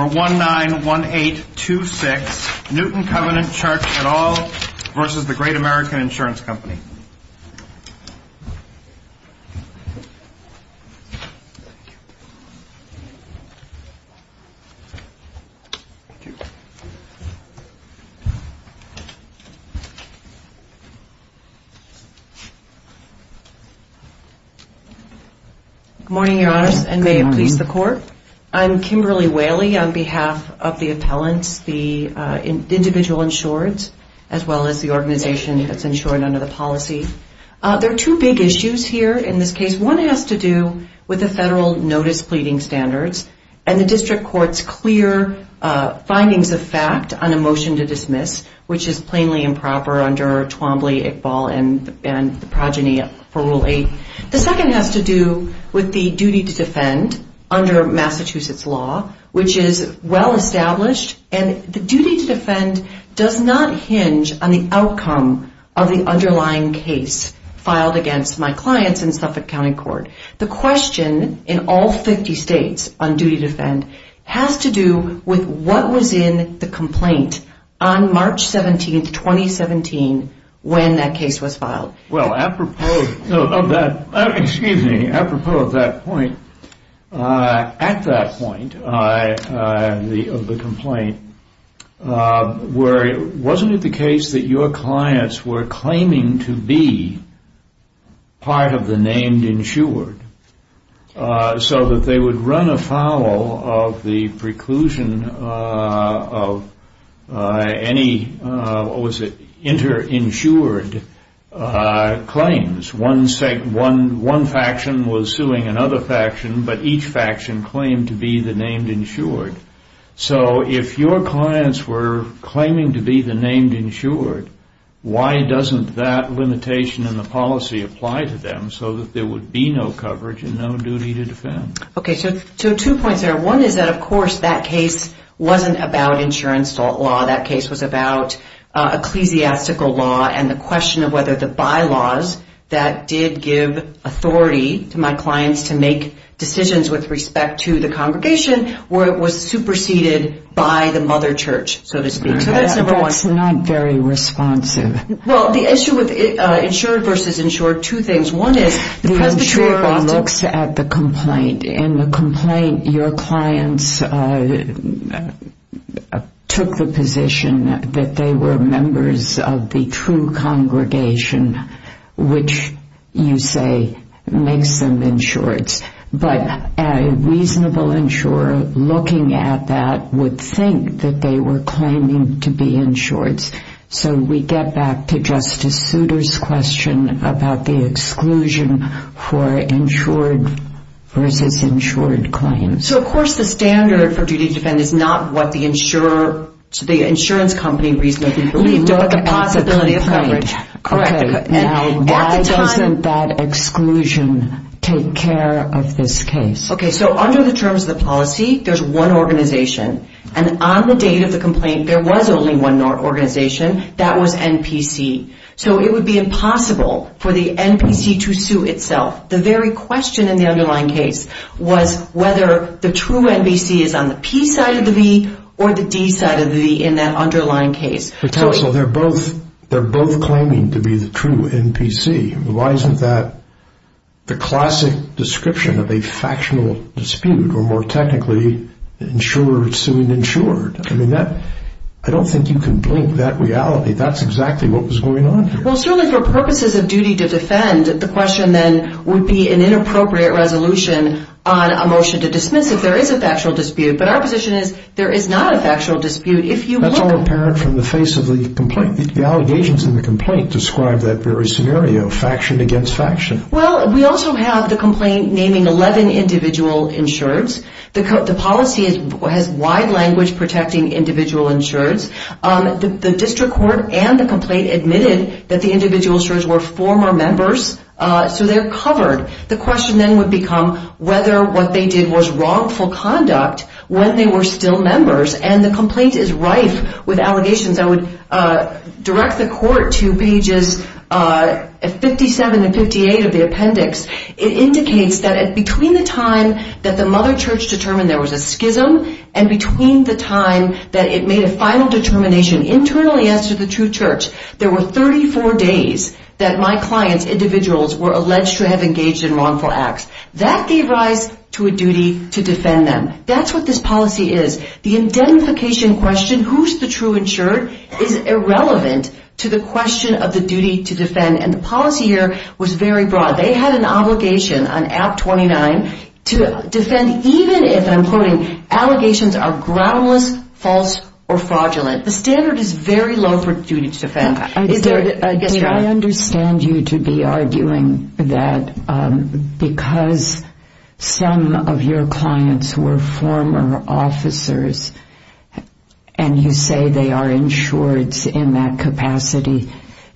191826 Newton Covenant Church et al. v. Great American Insurance Co. Good morning, your honors, and may it please the court. I'm Kimberly Whaley on behalf of the appellants, the individual insured, as well as the organization that's insured under the policy. There are two big issues here in this case. One has to do with the federal notice pleading standards and the district court's clear findings of fact on a motion to dismiss, which is plainly improper under Twombly, Iqbal, and the progeny for Rule 8. The second has to do with the duty to defend under Massachusetts law, which is well established, and the duty to defend does not hinge on the outcome of the underlying case filed against my clients in Suffolk County Court. The question in all 50 states on duty to defend has to do with what was in the complaint on March 17, 2017, when that case was filed. Well, apropos of that point, at that point of the complaint, wasn't it the case that your clients were claiming to be part of the named insured, so that they would run afoul of the preclusion of any what was it, inter-insured claims. One faction was suing another faction, but each faction claimed to be the named insured. So if your clients were claiming to be the named insured, why doesn't that limitation in the policy apply to them so that there would be no coverage and no duty to defend? Okay, so two points there. One is that, of course, that case wasn't about insurance law. That case was about ecclesiastical law and the question of whether the bylaws that did give authority to my clients to make decisions with respect to the congregation was superseded by the mother church, so to speak. So that's number one. That's not very responsive. Well, the issue with insured versus insured, two things. One is, the presbytery looks at the complaint. In the complaint, your clients took the position that they were members of the true congregation, which you say makes them insured. But a reasonable insurer looking at that would think that they were claiming to be insured. So we get back to Justice Souter's question about the exclusion for insured versus insured claims. So, of course, the standard for duty to defend is not what the insurance company reasonably believed, but the possibility of coverage. Okay, now why doesn't that exclusion take care of this case? Okay, so under the terms of the policy, there's one organization, and on the date of the complaint, there was only one organization. That was NPC. So it would be impossible for the NPC to sue itself. The very question in the underlying case was whether the true NPC is on the P side of the V or the D side of the V in that underlying case. So they're both claiming to be the true NPC. Why isn't that the classic description of a factional dispute, or more technically, insured suing insured? I don't think you can blame that reality. That's exactly what was going on here. Well, certainly for purposes of duty to defend, the question then would be an inappropriate resolution on a motion to dismiss if there is a factual dispute. But our position is there is not a factual dispute. That's all apparent from the face of the complaint. The allegations in the complaint describe that very scenario, faction against faction. Well, we also have the complaint naming 11 individual insureds. The policy has wide language protecting individual insureds. The district court and the complaint admitted that the individual insureds were former members. So they're covered. The question then would become whether what they did was wrongful conduct when they were still members. And the complaint is rife with allegations. I would direct the court to pages 57 and 58 of the appendix. It indicates that between the time that the Mother Church determined there was a schism and between the time that it made a final determination internally as to the true church, there were 34 days that my client's individuals were alleged to have engaged in wrongful acts. That gave rise to a duty to defend them. That's what this policy is. The identification question, who's the true insured, is irrelevant to the question of the duty to defend. And the policy here was very broad. They had an obligation on Act 29 to defend even if, I'm quoting, allegations are groundless, false, or fraudulent. The standard is very low for duty to defend. I understand you to be arguing that because some of your clients were former officers and you say they are insureds in that capacity,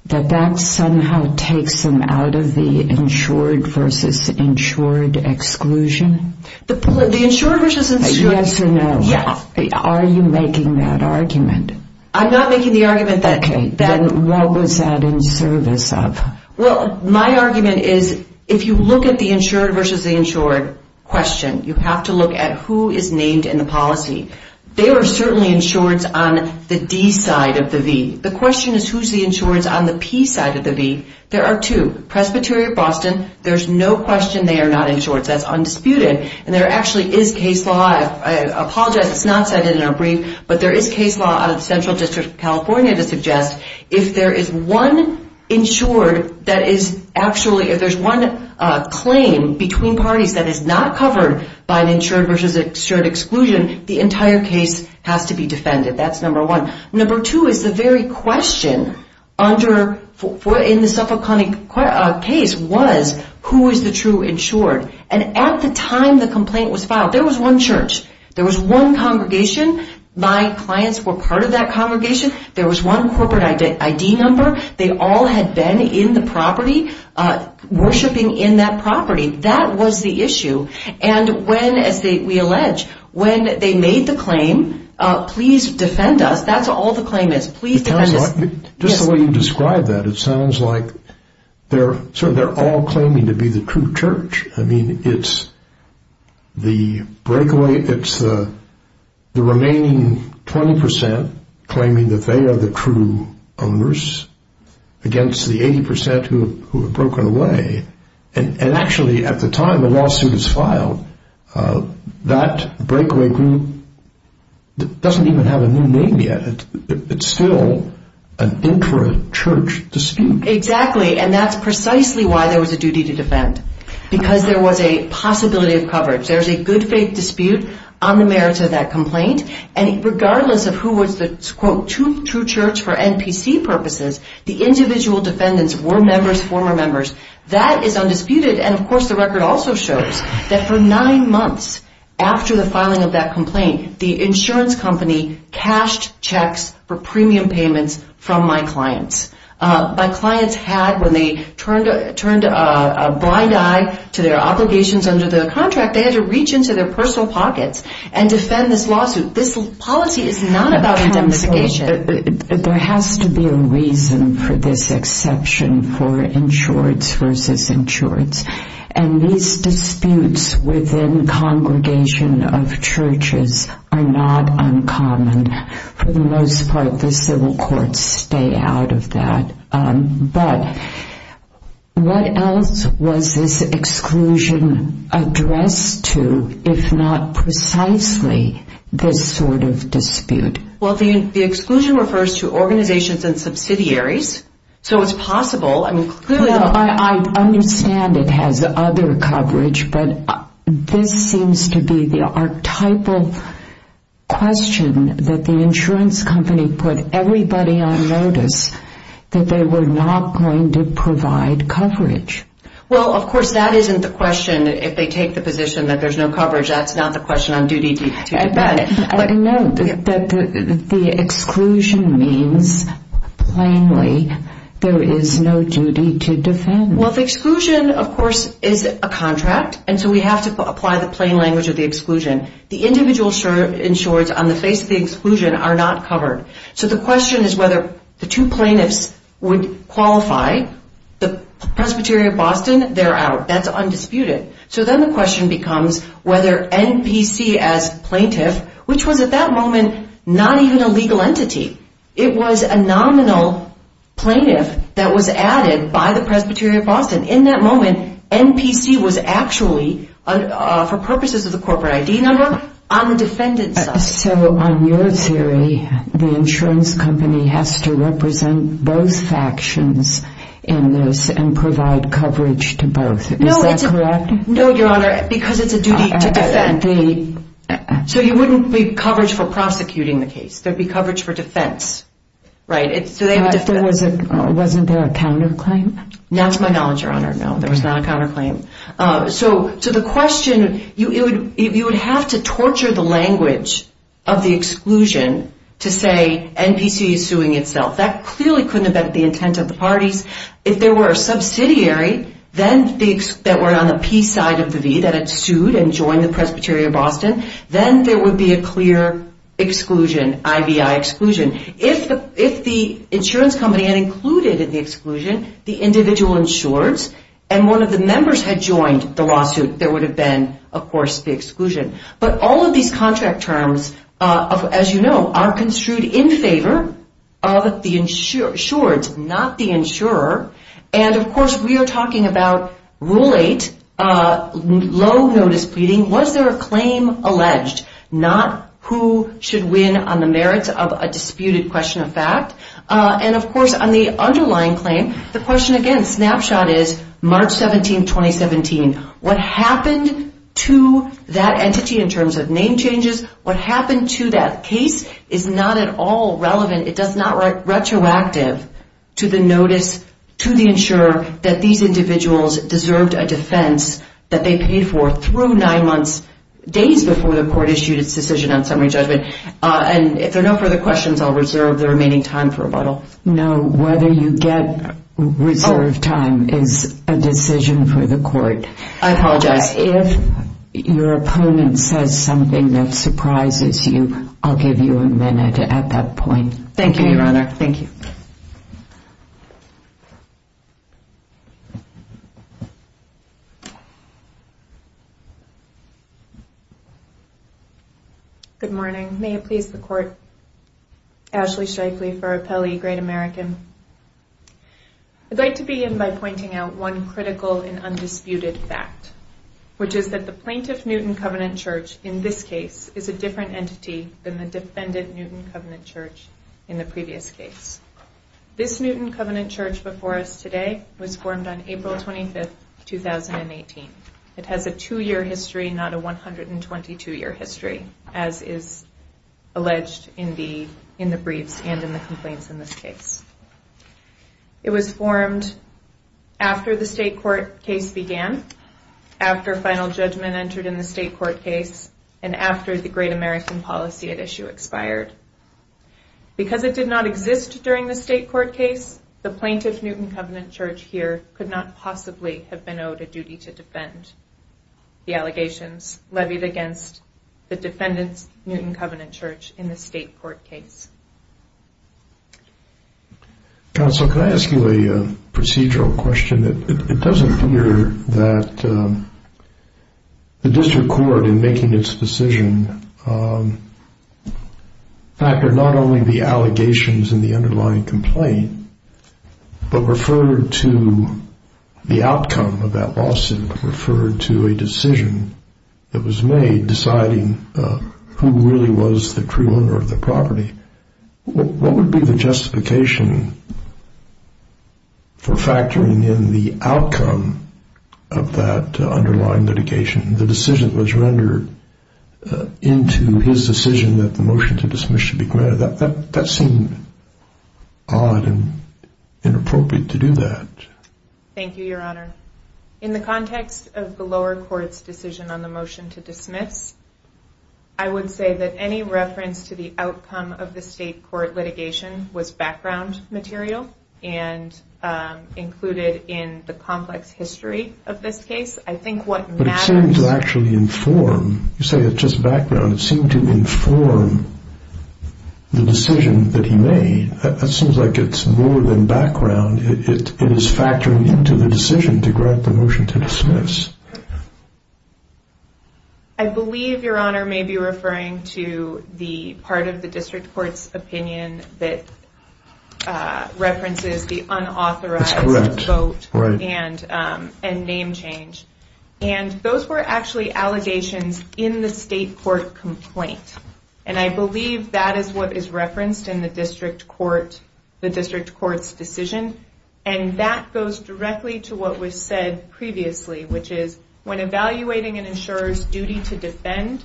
that that somehow takes them out of the insured versus insured exclusion? The insured versus insured? Yes or no? Yes. Are you making that argument? I'm not making the argument that... Okay, then what was that in service of? Well, my argument is if you look at the insured versus the insured question, you have to look at who is named in the policy. They were certainly insureds on the D side of the V. The question is who's the insureds on the P side of the V. There are two. Presbyterian of Boston, there's no question they are not insured. That's undisputed. And there actually is case law, I apologize it's not cited in our brief, but there is case law out of the Central District of California to suggest if there is one insured that is actually, if there's one claim between parties that is not covered by an insured versus an insured exclusion, the entire case has to be defended. That's number one. Number two is the question in the Suffolk County case was who is the true insured? And at the time the complaint was filed, there was one church. There was one congregation. My clients were part of that congregation. There was one corporate ID number. They all had been in the property, worshiping in that property. That was the issue. And when, as we allege, when they made the claim, please defend us, that's all the claim is. Please defend us. Just the way you describe that, it sounds like they're all claiming to be the true church. I mean, it's the breakaway, it's the remaining 20% claiming that they are the true owners against the 80% who have broken away. And actually at the time the lawsuit is filed, that breakaway group doesn't even have a new name yet. It's still an intra-church dispute. Exactly. And that's precisely why there was a duty to defend. Because there was a possibility of coverage. There's a good faith dispute on the merits of that complaint. And regardless of who was the, quote, true church for NPC purposes, the individual defendants were members, former members. That is undisputed. And of course, the record also shows that for nine months after the filing of that complaint, the insurance company cashed checks for premium payments from my clients. My clients had, when they turned a blind eye to their obligations under the contract, they had to reach into their personal pockets and defend this lawsuit. This policy is not identification. There has to be a reason for this exception for insured versus insured. And these disputes within congregation of churches are not uncommon. For the most part, the civil courts stay out of that. But what else was this exclusion addressed to, if not precisely this sort of dispute? Well, the exclusion refers to organizations and subsidiaries. So it's possible. I mean, clearly, I understand it has other coverage, but this seems to be the archetypal question that the insurance company put everybody on notice that they were not going to provide coverage. Well, of course, that isn't the question. If they take the position that there's no coverage, that's not the question on duty. I know that the exclusion means plainly there is no duty to defend. Well, the exclusion, of course, is a contract. And so we have to apply the plain language of the exclusion. The individual insured on the face of the exclusion are not covered. So the question is whether the two plaintiffs would qualify. The Presbyterian of Boston, they're out. That's undisputed. So then the question becomes whether NPC as plaintiff, which was at that moment, not even a legal entity. It was a nominal plaintiff that was added by the Presbyterian of Boston. In that moment, NPC was actually, for purposes of the corporate ID number, on the defendant's side. So on your theory, the insurance company has to represent both factions in this and provide coverage to both. Is that correct? No, Your Honor, because it's a duty to defend. So you wouldn't be coverage for prosecuting the case. There'd be coverage for defense. Wasn't there a counterclaim? Not to my knowledge, Your Honor. No, there was not a counterclaim. So the question, you would have to torture the language of the exclusion to say NPC is suing itself. That clearly couldn't have been the intent of the parties. If there were a subsidiary that were on the P side of the V that had sued and joined the Presbyterian of Boston, then there would be a clear exclusion, IBI exclusion. If the insurance company had included in the exclusion the individual insurers and one of the members had joined the lawsuit, there would have been, of course, the exclusion. But all of these contract terms, as you know, are construed in favor of the insured, not the insurer. And of course, we are talking about Rule 8, low notice pleading. Was there a claim alleged? Not who should win on the merits of a disputed question of fact. And of course, on the underlying claim, the question again, snapshot is March 17, 2017. What happened to that entity in terms of name changes? What happened to that case is not at all relevant. It does not write retroactive to the notice to the insurer that these individuals deserved a defense that they paid for through nine months, days before the court issued its decision on summary judgment. And if there are no further questions, I'll reserve the remaining time for rebuttal. No, whether you get reserve time is a decision for the court. I apologize. If your opponent says something that surprises you, I'll give you a minute at that point. Thank you, Your Honor. Thank you. Good morning. May it please the court. Ashley Strikely for Appellee Great American. I'd like to begin by pointing out one critical and undisputed fact, which is that the plaintiff Newton Covenant Church in this case is a different entity than the defendant Newton Covenant Church in the previous case. This Newton Covenant Church before us today was formed on April 25, 2018. It has a two-year history, not a 122-year history, as is alleged in the briefs and in the It was formed after the state court case began, after final judgment entered in the state court case, and after the Great American policy at issue expired. Because it did not exist during the state court case, the plaintiff Newton Covenant Church here could not possibly have been owed a duty to defend the allegations levied against the defendant's Newton Covenant Church in Council, can I ask you a procedural question? It does appear that the district court in making its decision factored not only the allegations in the underlying complaint, but referred to the outcome of that lawsuit, referred to a decision that was made deciding who really was the true owner of the property. What would be the justification for factoring in the outcome of that underlying litigation, the decision that was rendered into his decision that the motion to dismiss should be granted? That seemed odd and inappropriate to do that. Thank you, Your Honor. In the context of the lower court's decision on the motion to dismiss, I would say that any reference to the outcome of the state court litigation was background material and included in the complex history of this case. But it seemed to actually inform, you say it's just background, it seemed to inform the decision that he made. That seems like it's more than background, it is factoring into the decision to grant the motion to dismiss. I believe Your Honor may be referring to the part of the district court's opinion that references the unauthorized vote and name change. Those were actually allegations in the state court complaint. I believe that is what is referenced in the district court's decision. That goes directly to what was said previously, which is when evaluating an insurer's duty to defend,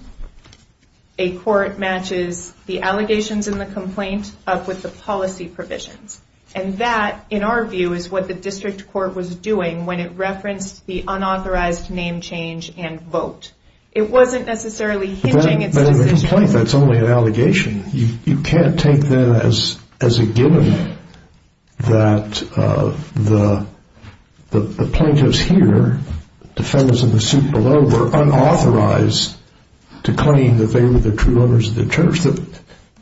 a court matches the allegations in the complaint up with the policy provisions. And that, in our view, is what the district court was doing when it referenced the unauthorized name change and vote. It wasn't necessarily hinging its decision. But in the complaint, that's only an allegation. You can't take that as a given that the plaintiffs here, defendants in the suit below, were unauthorized to claim that they were the true owners of the church.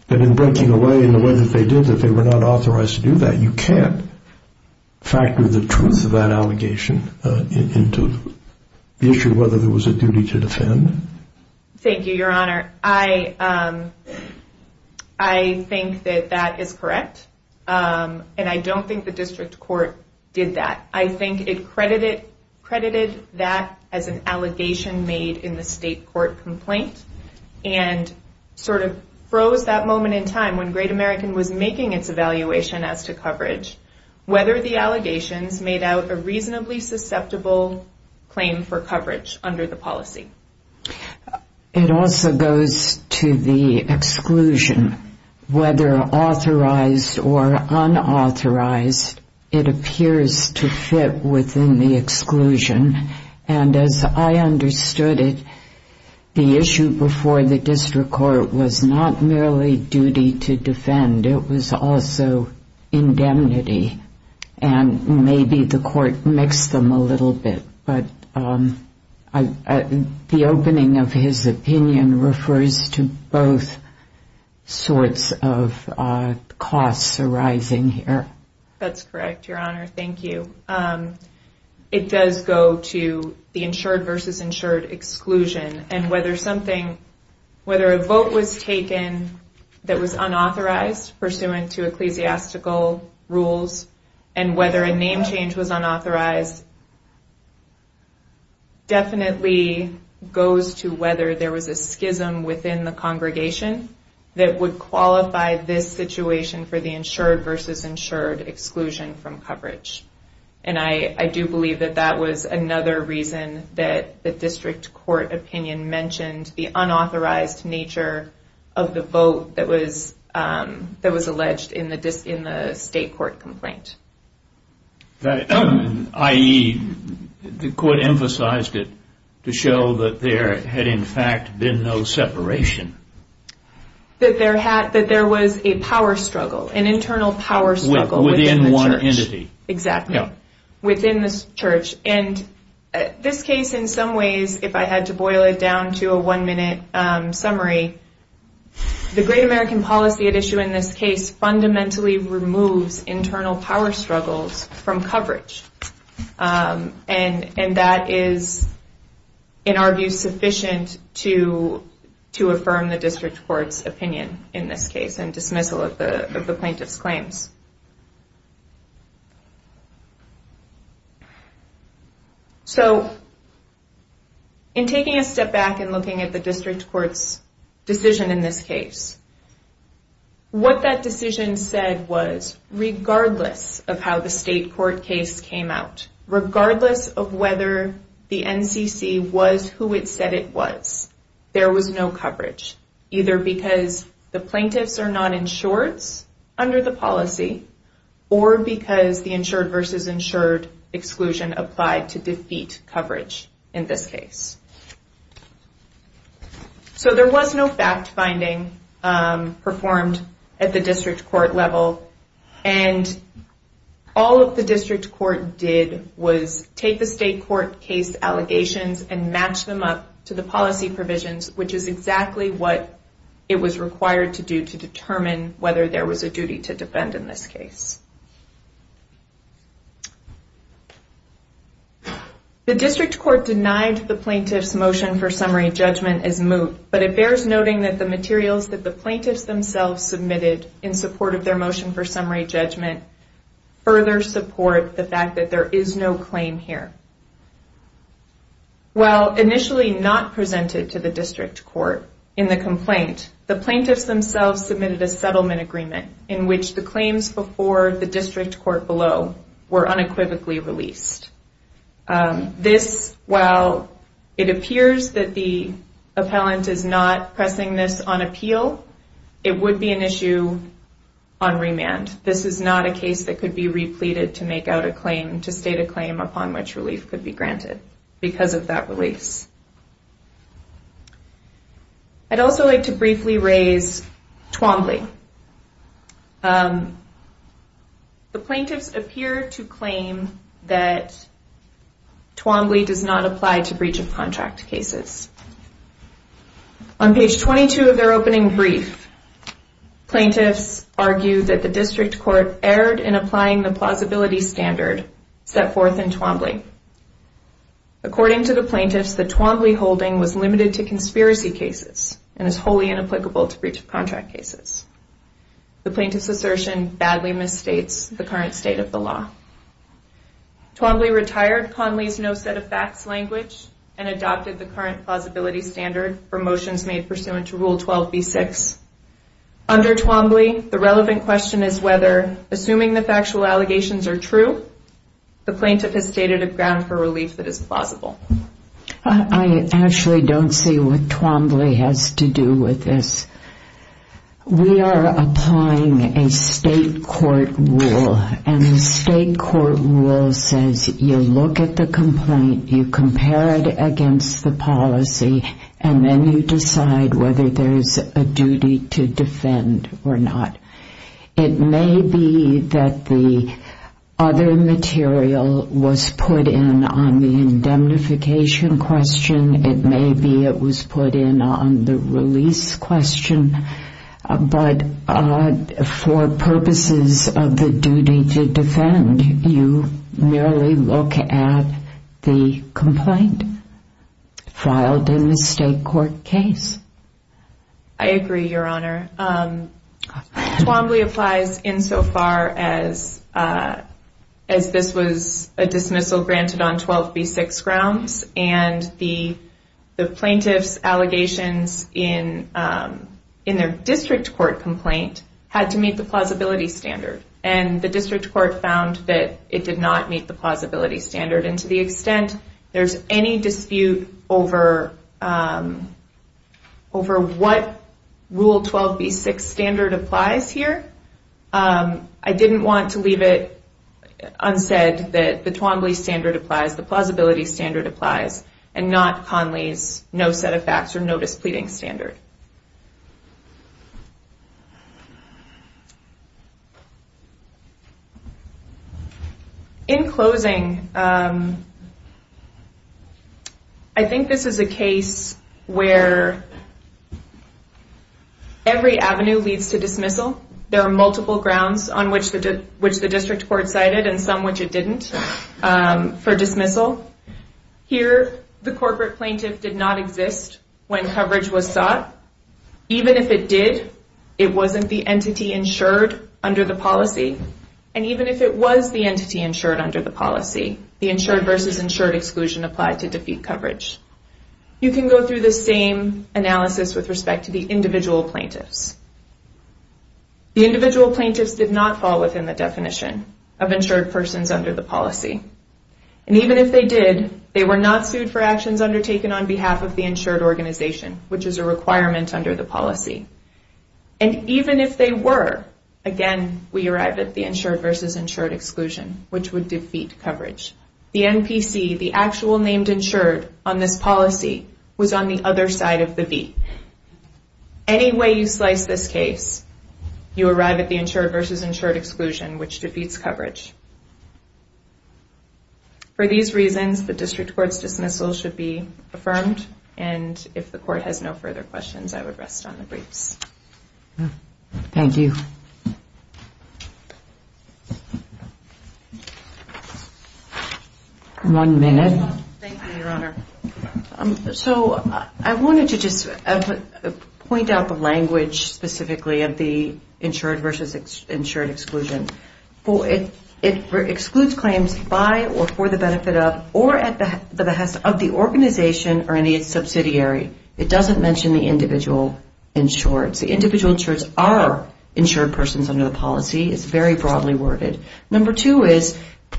And in breaking away in the way that they did, that they were not authorized to do that. You can't factor the truth of that allegation into the issue of whether there was a duty to defend. Thank you, your honor. I think that that is correct. And I don't think the district court did that. I think it credited that as an allegation made in the state court complaint, and sort of froze that moment in time when Great American was making its evaluation as to coverage, whether the allegations made out a reasonably susceptible claim for coverage under the policy. It also goes to the exclusion. Whether authorized or unauthorized, it appears to fit within the exclusion. And as I understood it, the issue before the district court was not merely duty to defend. It was also indemnity. And maybe the court mixed them a little bit. But I think the opening of his opinion refers to both sorts of costs arising here. That's correct, your honor. Thank you. It does go to the insured versus insured exclusion. And whether something, whether a vote was taken that was unauthorized pursuant to ecclesiastical rules, and whether a name change was unauthorized, definitely goes to whether there was a schism within the congregation that would qualify this situation for the insured versus insured exclusion from coverage. And I do believe that that was another reason that the district court opinion mentioned the unauthorized nature of the vote that was alleged in the state court complaint. I.e., the court emphasized it to show that there had in fact been no separation. That there was a power struggle, an internal power struggle. Within one entity. Exactly. Within the church. And this case in some ways, if I had to boil it down to a one minute summary, the great American policy at issue in this case fundamentally removes internal power struggles from coverage. And that is, in our view, sufficient to affirm the district court's opinion in this case and dismissal of the plaintiff's claims. So, in taking a step back and looking at the district court's decision in this case, what that decision said was, regardless of how the state court case came out, regardless of whether the NCC was who it said it was to be, or because the insured versus insured exclusion applied to defeat coverage in this case. So, there was no fact-finding performed at the district court level. And all that the district court did was take the state court case allegations and match them up to the policy provisions, which is exactly what it was required to do to determine whether there was a duty to defend in this case. The district court denied the plaintiff's motion for summary judgment as moot, but it bears noting that the materials that the plaintiffs themselves submitted in support of their motion for summary judgment further support the fact that there is no claim here. While initially not presented to the district court in the complaint, the district court submitted a summary judgment agreement in which the claims before the district court below were unequivocally released. This, while it appears that the appellant is not pressing this on appeal, it would be an issue on remand. This is not a case that could be The plaintiffs appear to claim that Twombly does not apply to breach of contract cases. On page 22 of their opening brief, plaintiffs argue that the district court erred in applying the plausibility standard set forth in Twombly. According to the plaintiffs, the Twombly holding was limited to The plaintiff's assertion badly misstates the current state of the law. Twombly retired Conley's no set of facts language and adopted the current plausibility standard for motions made pursuant to Rule 12b-6. Under Twombly, the relevant question is whether, assuming the factual allegations are true, the plaintiff has stated a ground for relief that is plausible. I actually don't see what Twombly has to do with this. We are applying a state court rule and the state court rule says you look at the complaint, you compare it against the policy, and then you decide whether there is a duty to defend or not. It may be that the other material was put in on the indemnification question, it may be that it was put in on the release question, but for purposes of the duty to defend, you merely look at the complaint filed in the state court case. I agree, Your Honor. Twombly applies insofar as this was a dismissal granted on 12b-6 grounds and the plaintiff's allegations in their district court complaint had to meet the plausibility standard. And the district court found that it did not meet the plausibility standard. And to the extent there is any dispute over what Rule 12b-6 standard applies here, I didn't want to leave it unsaid that the Twombly standard applies, the plausibility standard applies, and not Conley's no-set-of-facts or no-displeading standard. In closing, I think this is a case where every avenue leads to dismissal. There are multiple grounds on which the district court cited and some which it didn't for dismissal. Here, the corporate plaintiff did not exist when coverage was sought. Even if it did, it wasn't the entity insured under the policy. And even if it was the entity insured under the policy, the insured versus insured exclusion applied to defeat coverage. You can go through the same analysis with respect to the policy. And even if they did, they were not sued for actions undertaken on behalf of the insured organization, which is a requirement under the policy. And even if they were, again, we arrive at the insured versus insured exclusion, which would defeat coverage. The NPC, the actual named insured on this policy, was on the other side of the V. Any way you slice this case, you arrive at the insured versus insured exclusion, which defeats coverage. For these reasons, the district court's dismissal should be affirmed. And if the court has no further questions, I would rest on the briefs. Thank you. One minute. Thank you, Your Honor. So I wanted to just point out the language specifically of the insured versus insured exclusion. It excludes claims by or for the benefit of or at the organization or any subsidiary. It doesn't mention the individual insured. The individual insured are insured persons under the policy. It's very broadly worded. Number two is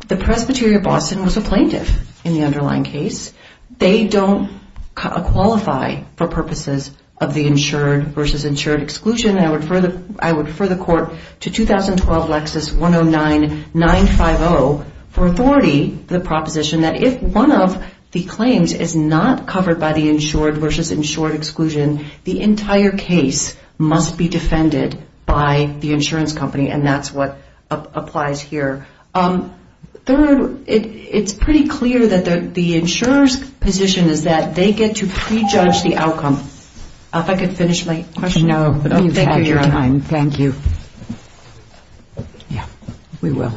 the Presbyterian Boston was a plaintiff in the underlying case. They don't qualify for purposes of the insured versus insured exclusion. I would refer the court to 2012 The entire case must be defended by the insurance company. And that's what applies here. Third, it's pretty clear that the insurer's position is that they get to prejudge the outcome. If I could finish my question. Thank you.